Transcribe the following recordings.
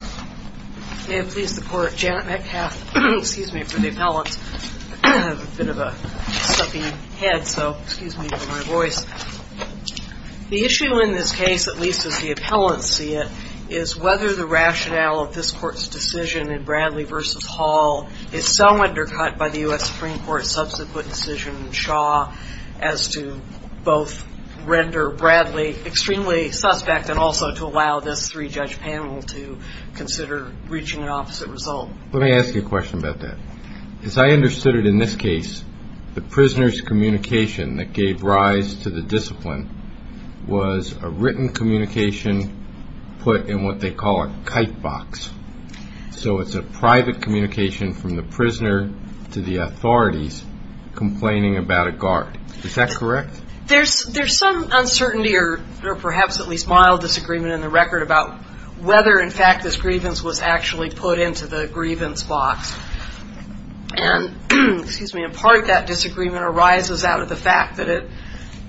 The issue in this case, at least as the appellants see it, is whether the rationale of this court's decision in Bradley v. Hall is so undercut by the U.S. Supreme Court's subsequent decision in Shaw as to both render Bradley extremely suspect and also to allow this three-judge panel to go to trial. Let me ask you a question about that. As I understood it in this case, the prisoner's communication that gave rise to the discipline was a written communication put in what they call a kite box. So it's a private communication from the prisoner to the authorities complaining about a guard. Is that correct? There's some uncertainty or perhaps at least mild disagreement in the record about whether in fact this grievance was actually put into the grievance box. And in part that disagreement arises out of the fact that it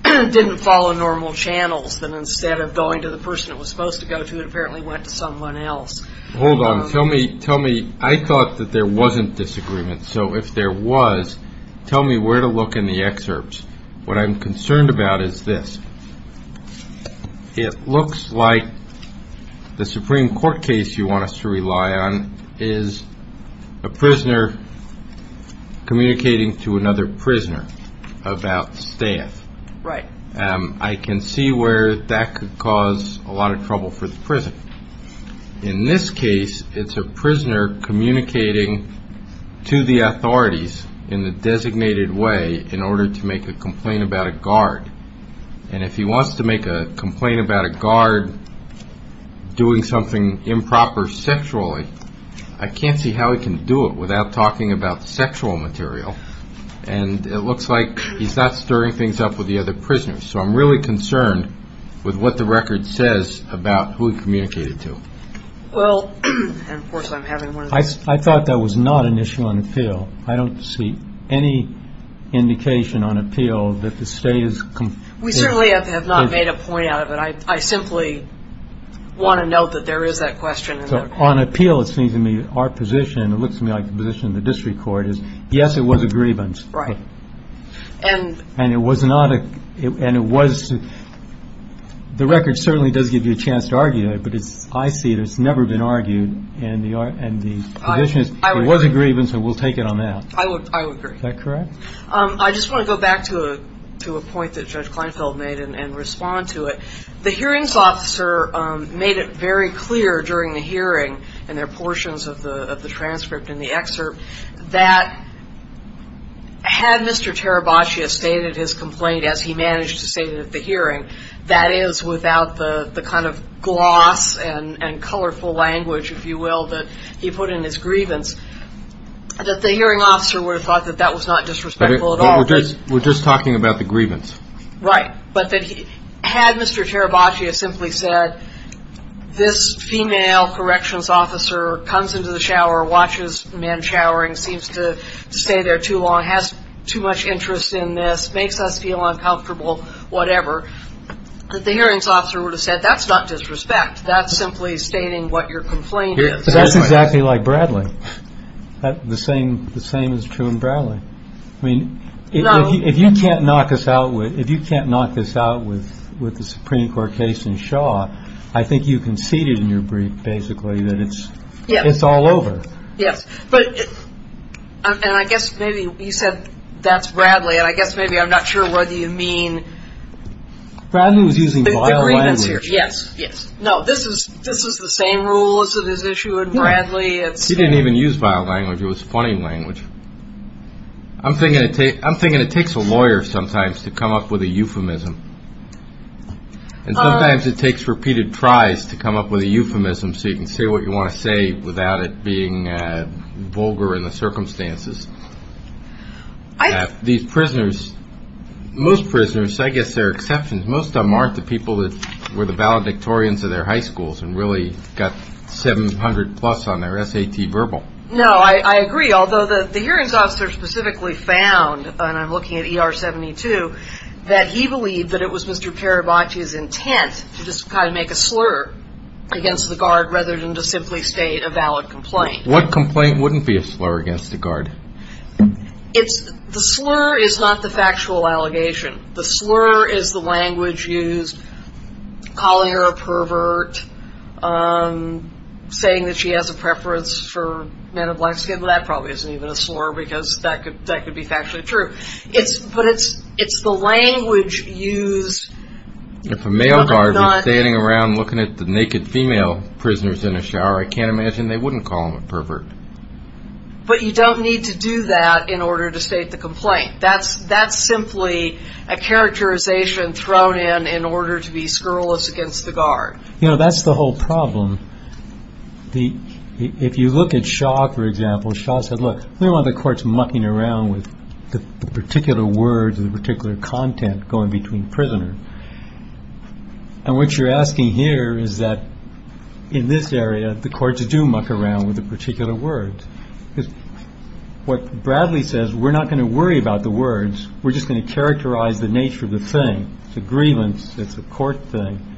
didn't follow normal channels, that instead of going to the person it was supposed to go to, it apparently went to someone else. I thought that there wasn't disagreement. So if there was, tell me where to look in the excerpts. What I'm concerned about is this. It looks like the Supreme Court case you want us to rely on is a prisoner communicating to another prisoner about staff. I can see where that could cause a lot of trouble for the prisoner. In this case, it's a prisoner communicating to the authorities in the designated way in order to make a complaint about a guard. And if he wants to make a complaint about a guard doing something improper sexually, I can't see how he can do it without talking about the sexual material. And it looks like he's not stirring things up with the other prisoners. So I'm really concerned with what the record says about who he communicated to. I thought that was not an issue on appeal. I don't see any indication on appeal that the state is... We certainly have not made a point out of it. I simply want to note that there is that question. So on appeal, it seems to me our position, it looks to me like the position of the district court is, yes, it was a grievance. Right. And it was not. And it was. The record certainly does give you a chance to argue it. But it's I see it has never been argued. And the and the position is it was a grievance. And we'll take it on that. I agree. Is that correct? I just want to go back to a to a point that Judge Kleinfeld made and respond to it. The hearings officer made it very clear during the hearing and their portions of the transcript in the excerpt that had Mr. Terabaccia stated his complaint as he managed to say that the hearing that is without the kind of gloss and colorful language, if you will, that he put in his grievance, that the hearing officer would have thought that that was not disrespectful at all. We're just we're just talking about the grievance. Right. But had Mr. Terabaccia simply said this female corrections officer comes into the shower, watches men showering, seems to stay there too long, has too much interest in this, makes us feel uncomfortable, whatever, the hearings officer would have said that's not disrespect. That's simply stating what your complaint is. That's exactly like Bradley. The same the same is true in Bradley. I mean, if you can't knock us out, if you can't knock this out with with the Supreme Court case in Shaw, I think you conceded in your brief basically that it's it's all over. Yes. But I guess maybe you said that's Bradley. And I guess maybe I'm not sure whether you mean Bradley was using violence. Yes. Yes. No, this is this is the same rule as it is issue in Bradley. It's he didn't even use vile language. It was funny language. I'm thinking I'm thinking it takes a lawyer sometimes to come up with a euphemism. And sometimes it takes repeated tries to come up with a euphemism. So you can say what you want to say without it being vulgar in the circumstances. These prisoners, most prisoners, I guess they're exceptions. Most of them aren't the people that were the valedictorians of their high schools and really got 700 plus on their SAT verbal. No, I agree. Although the hearings officer specifically found and I'm looking at E.R. 72, that he believed that it was Mr. Parabati's intent to just kind of make a slur against the guard rather than to simply state a valid complaint. What complaint wouldn't be a slur against the guard? It's the slur is not the factual allegation. The slur is the language used, calling her a pervert, saying that she has a preference for men of black skin. That probably isn't even a slur because that could be factually true. But it's the language used. If a male guard was standing around looking at the naked female prisoners in a shower, I can't imagine they wouldn't call him a pervert. But you don't need to do that in order to state the complaint. That's simply a characterization thrown in in order to be scurrilous against the guard. You know, that's the whole problem. The if you look at Shaw, for example, Shaw said, look, we want the courts mucking around with the particular words, the particular content going between prisoner. And what you're asking here is that in this area, the courts do muck around with a particular word. What Bradley says, we're not going to worry about the words. We're just going to characterize the nature of the thing. It's a grievance. It's a court thing,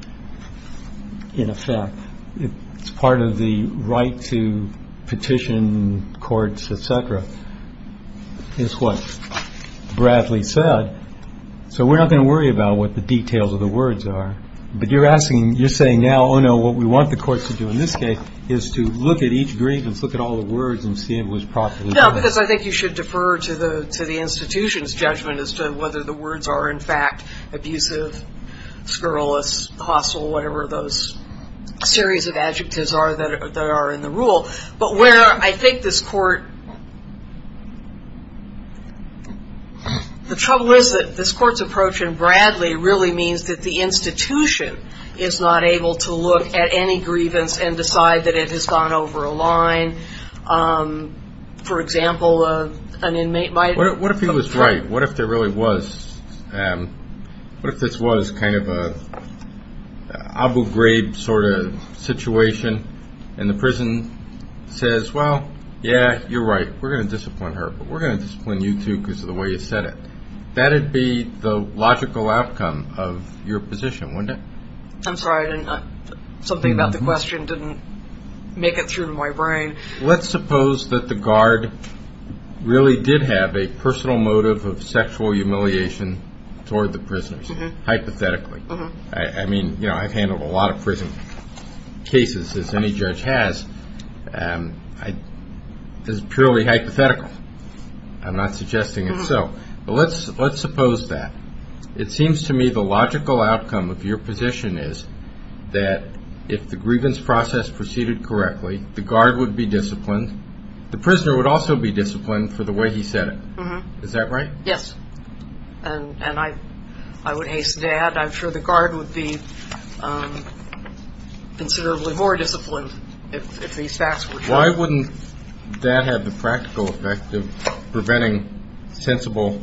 in effect. It's part of the right to petition courts, et cetera. It's what Bradley said. So we're not going to worry about what the details of the words are. But you're asking you're saying now, oh, no, what we want the courts to do in this case is to look at each grievance, look at all the words and see if it was properly. No, because I think you should defer to the to the institution's judgment as to whether the words are in fact abusive, scurrilous, hostile, whatever those series of adjectives are that are in the rule. But where I think this court. The trouble is that this court's approach in Bradley really means that the institution is not able to look at any grievance and decide that it has gone over a line. For example, an inmate might. What if he was right? What if there really was. What if this was kind of a Abu Ghraib sort of situation and the prison says, well, yeah, you're right. We're going to discipline her. We're going to discipline you, too, because of the way you said it. That would be the logical outcome of your position, wouldn't it? I'm sorry. Something about the question didn't make it through my brain. Let's suppose that the guard really did have a personal motive of sexual humiliation toward the prisoners. Hypothetically. I mean, you know, I've handled a lot of prison cases, as any judge has. This is purely hypothetical. I'm not suggesting it. Let's suppose that. It seems to me the logical outcome of your position is that if the grievance process proceeded correctly, the guard would be disciplined. The prisoner would also be disciplined for the way he said it. Is that right? Yes. And I would hasten to add I'm sure the guard would be considerably more disciplined if these facts were true. Why wouldn't that have the practical effect of preventing sensible,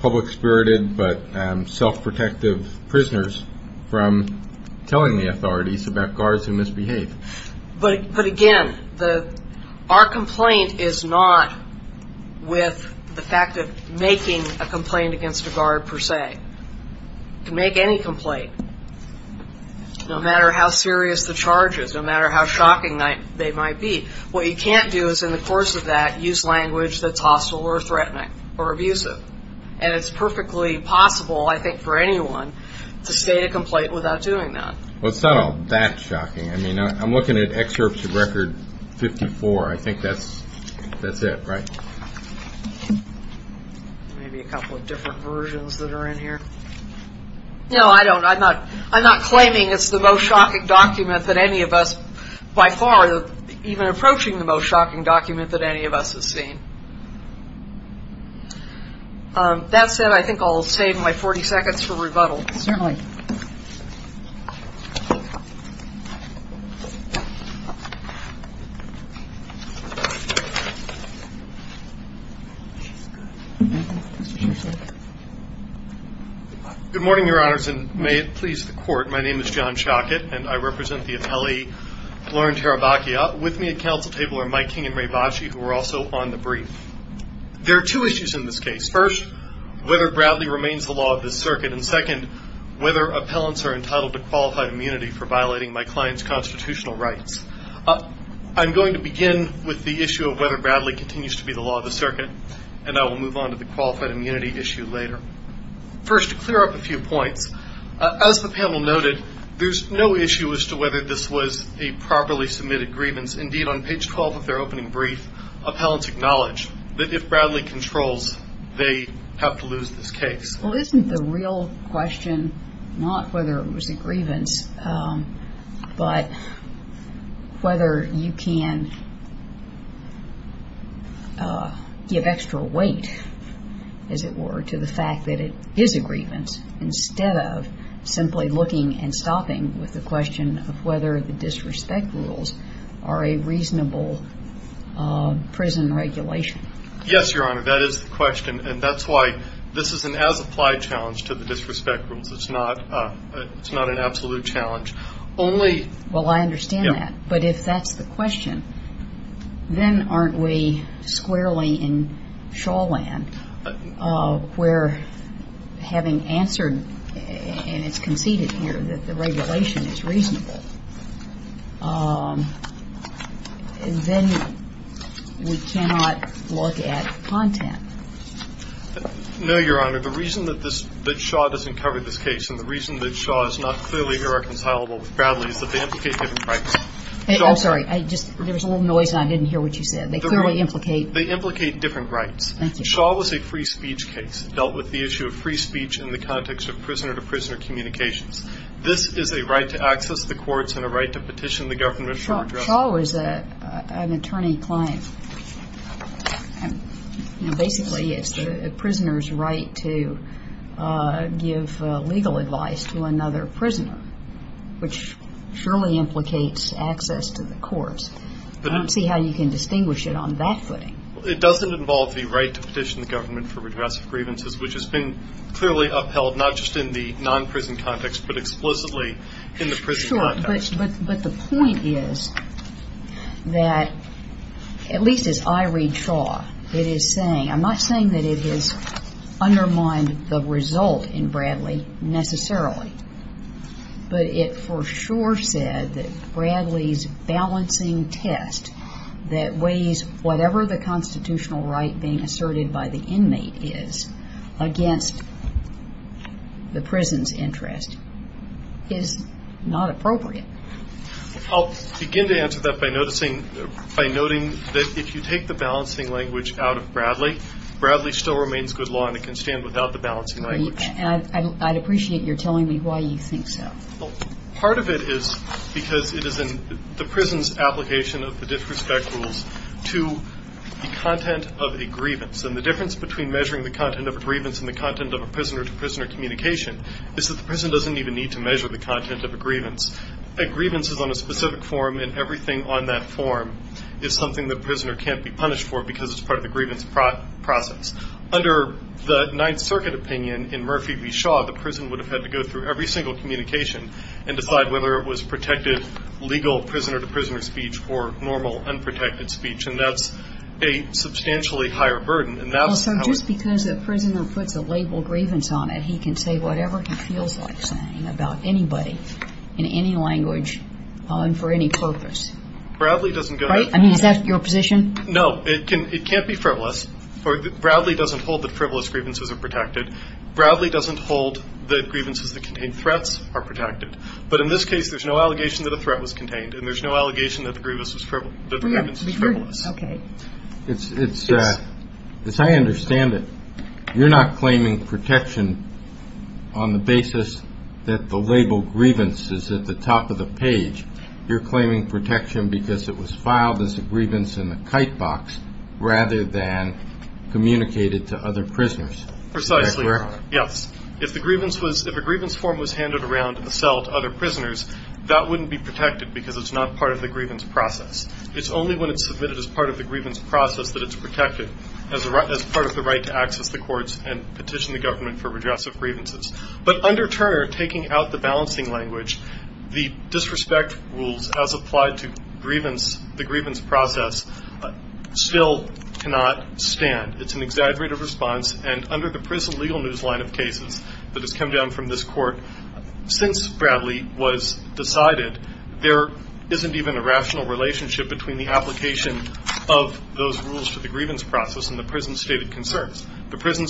public-spirited, but self-protective prisoners from telling the authorities about guards who misbehave? But again, our complaint is not with the fact of making a complaint against a guard, per se. You can make any complaint, no matter how serious the charges, no matter how shocking they might be. What you can't do is, in the course of that, use language that's hostile or threatening or abusive. And it's perfectly possible, I think, for anyone to state a complaint without doing that. Well, it's not all that shocking. I mean, I'm looking at Excerpts of Record 54. I think that's it, right? Maybe a couple of different versions that are in here. No, I don't. I'm not claiming it's the most shocking document that any of us, by far, even approaching the most shocking document that any of us has seen. That said, I think I'll save my 40 seconds for rebuttal. Certainly. Good morning, Your Honors, and may it please the Court. My name is John Schockett, and I represent the Atelier Laurent-Tarabacchia. With me at council table are Mike King and Ray Bacci, who are also on the brief. There are two issues in this case. First, whether Bradley remains the law of the circuit, and second, whether appellants are entitled to qualified immunity for violating my client's constitutional rights. I'm going to begin with the issue of whether Bradley continues to be the law of the circuit, and I will move on to the qualified immunity issue later. First, to clear up a few points. As the panel noted, there's no issue as to whether this was a properly submitted grievance. Indeed, on page 12 of their opening brief, appellants acknowledge that if Bradley controls, they have to lose this case. Well, isn't the real question not whether it was a grievance, but whether you can give extra weight, as it were, to the fact that it is a grievance, instead of simply looking and stopping with the question of whether the disrespect rules are a reasonable prison regulation? Yes, Your Honor, that is the question. And that's why this is an as-applied challenge to the disrespect rules. It's not an absolute challenge. Well, I understand that. But if that's the question, then aren't we squarely in shawl land, where having answered and it's conceded here that the regulation is reasonable, then we cannot look at content. No, Your Honor. The reason that this – that Shaw doesn't cover this case and the reason that Shaw is not clearly irreconcilable with Bradley is that they implicate different rights. I'm sorry. I just – there was a little noise and I didn't hear what you said. They clearly implicate – They implicate different rights. Thank you. Shaw was a free speech case. It dealt with the issue of free speech in the context of prisoner-to-prisoner communications. This is a right to access the courts and a right to petition the government for address. Shaw was an attorney-client. Basically, it's the prisoner's right to give legal advice to another prisoner, which surely implicates access to the courts. I don't see how you can distinguish it on that footing. It doesn't involve the right to petition the government for redress of grievances, which has been clearly upheld, not just in the non-prison context, but explicitly in the prison context. Sure. But the point is that, at least as I read Shaw, it is saying – I'm not saying that it has undermined the result in Bradley necessarily, but it for sure said that Bradley's balancing test, that weighs whatever the constitutional right being asserted by the inmate is, against the prison's interest, is not appropriate. I'll begin to answer that by noting that if you take the balancing language out of Bradley, Bradley still remains good law and it can stand without the balancing language. And I'd appreciate your telling me why you think so. Part of it is because it is in the prison's application of the disrespect rules to the content of a grievance. And the difference between measuring the content of a grievance and the content of a prisoner-to-prisoner communication is that the prison doesn't even need to measure the content of a grievance. A grievance is on a specific form, and everything on that form is something the prisoner can't be punished for because it's part of the grievance process. Under the Ninth Circuit opinion in Murphy v. Shaw, the prison would have had to go through every single communication and decide whether it was protected legal prisoner-to-prisoner speech or normal unprotected speech. And that's a substantially higher burden. And that's how it was. Well, so just because a prisoner puts a label grievance on it, he can say whatever he feels like saying about anybody in any language and for any purpose. Bradley doesn't go that far. Right? I mean, is that your position? No. It can't be frivolous. Bradley doesn't hold that frivolous grievances are protected. Bradley doesn't hold that grievances that contain threats are protected. But in this case, there's no allegation that a threat was contained, and there's no allegation that the grievance was frivolous. Okay. As I understand it, you're not claiming protection on the basis that the label grievance is at the top of the page. You're claiming protection because it was filed as a grievance in the kite box rather than communicated to other prisoners. Precisely. Yes. If a grievance form was handed around in a cell to other prisoners, that wouldn't be protected because it's not part of the grievance process. It's only when it's submitted as part of the grievance process that it's protected as part of the right to access the courts and petition the government for redress of grievances. But under Turner, taking out the balancing language, the disrespect rules as applied to the grievance process still cannot stand. It's an exaggerated response. And under the prison legal news line of cases that has come down from this court, since Bradley was decided, there isn't even a rational relationship between the application of those rules to the grievance process and the prison stated concerns. The prison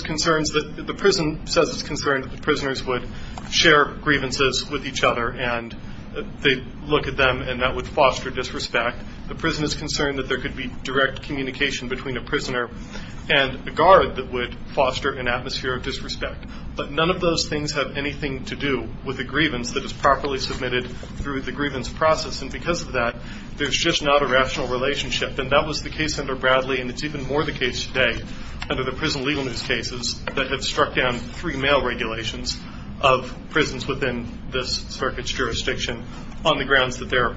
says it's concerned that the prisoners would share grievances with each other and they'd look at them and that would foster disrespect. The prison is concerned that there could be direct communication between a prisoner and a guard that would foster an atmosphere of disrespect. But none of those things have anything to do with a grievance that is properly submitted through the grievance process. And because of that, there's just not a rational relationship. And that was the case under Bradley, and it's even more the case today under the prison legal news cases that have struck down three mail regulations of prisons within this circuit's jurisdiction on the grounds that there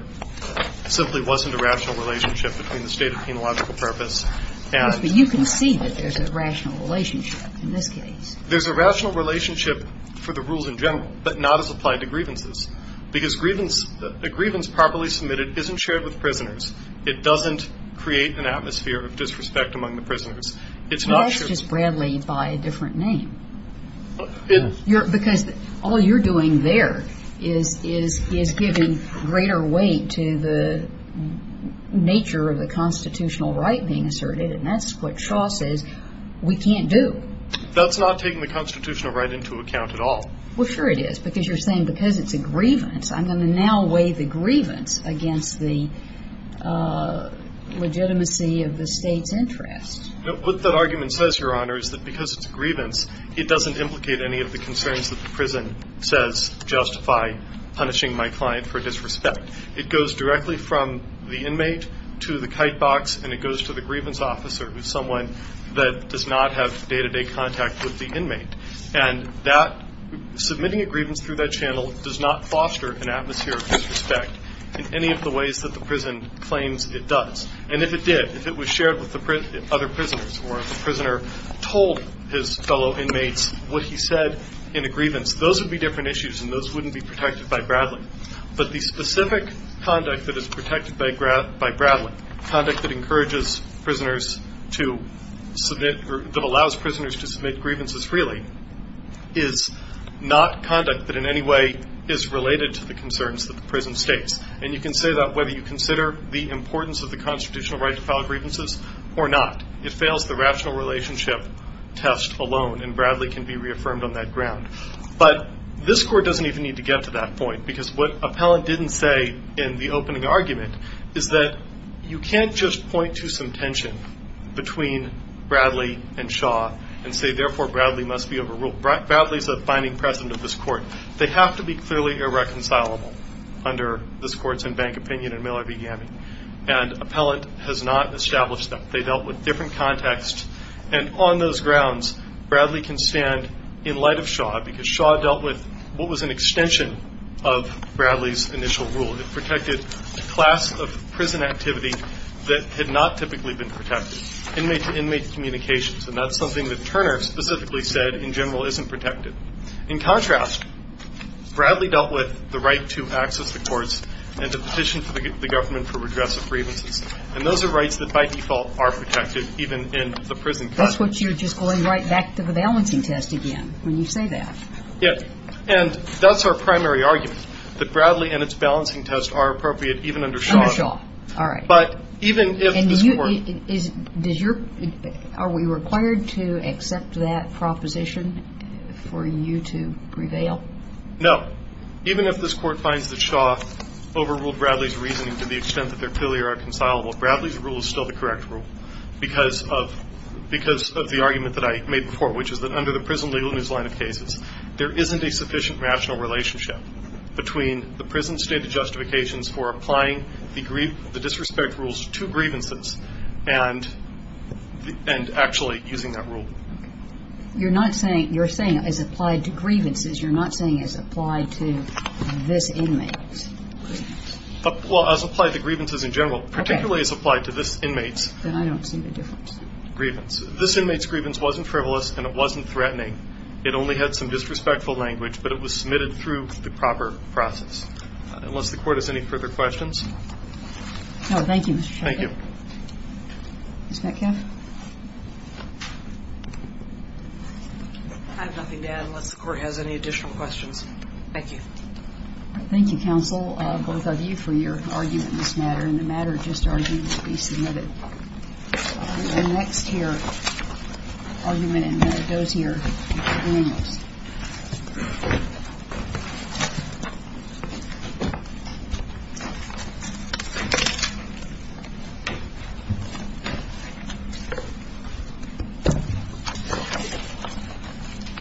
simply wasn't a rational relationship between the state of penological purpose and the prison. But you can see that there's a rational relationship in this case. There's a rational relationship for the rules in general, but not as applied to grievances, because a grievance properly submitted isn't shared with prisoners. It doesn't create an atmosphere of disrespect among the prisoners. It's not shared. Well, that's just Bradley by a different name. Because all you're doing there is giving greater weight to the nature of the constitutional right being asserted, and that's what Shaw says we can't do. That's not taking the constitutional right into account at all. Well, sure it is, because you're saying because it's a grievance, I'm going to now weigh the grievance against the legitimacy of the state's interest. What that argument says, Your Honor, is that because it's a grievance, it doesn't implicate any of the concerns that the prison says justify punishing my client for disrespect. It goes directly from the inmate to the kite box, and it goes to the grievance officer, who's someone that does not have day-to-day contact with the inmate. And submitting a grievance through that channel does not foster an atmosphere of disrespect in any of the ways that the prison claims it does. And if it did, if it was shared with the other prisoners, or if the prisoner told his fellow inmates what he said in a grievance, those would be different issues, and those wouldn't be protected by Bradley. But the specific conduct that is protected by Bradley, conduct that encourages prisoners to submit or that allows prisoners to submit grievances freely, is not conduct that in any way is related to the concerns that the prison states. And you can say that whether you consider the importance of the constitutional right to file grievances or not. It fails the rational relationship test alone, and Bradley can be reaffirmed on that ground. But this Court doesn't even need to get to that point, because what Appellant didn't say in the opening argument is that you can't just point to some tension between Bradley and Shaw and say, therefore, Bradley must be overruled. Bradley's a binding precedent of this Court. They have to be clearly irreconcilable under this Court's and Bank Opinion and Miller v. Gammy. And Appellant has not established that. They dealt with different contexts, and on those grounds, Bradley can stand in light of Shaw, because Shaw dealt with what was an extension of Bradley's initial rule. It protected a class of prison activity that had not typically been protected, inmate-to-inmate communications. And that's something that Turner specifically said in general isn't protected. In contrast, Bradley dealt with the right to access the courts and to petition for the government to redress the grievances. And those are rights that, by default, are protected even in the prison context. That's what you're just going right back to the balancing test again when you say that. Yes. And that's our primary argument, that Bradley and its balancing test are appropriate even under Shaw. Under Shaw. All right. But even if this Court — And you — is — does your — are we required to accept that proposition for you to prevail? No. Even if this Court finds that Shaw overruled Bradley's reasoning to the extent that they're clearly irreconcilable, Bradley's rule is still the correct rule because of the argument that I made before, which is that under the prison legal news line of cases, there isn't a sufficient rational relationship between the prison's stated justifications for applying the disrespect rules to grievances and actually using that rule. Okay. You're not saying — you're saying as applied to grievances. You're not saying as applied to this inmate's grievances. Well, as applied to grievances in general. Okay. Particularly as applied to this inmate's — Then I don't see the difference. — grievance. This inmate's grievance wasn't frivolous and it wasn't threatening. It only had some disrespectful language, but it was submitted through the proper process. Unless the Court has any further questions. No. Thank you, Mr. Sheffield. Thank you. Ms. Metcalf. I have nothing to add unless the Court has any additional questions. Thank you. Thank you, counsel, both of you, for your argument in this matter. And the matter of just argument will be submitted. And the next here argument and matter goes here. Thank you very much.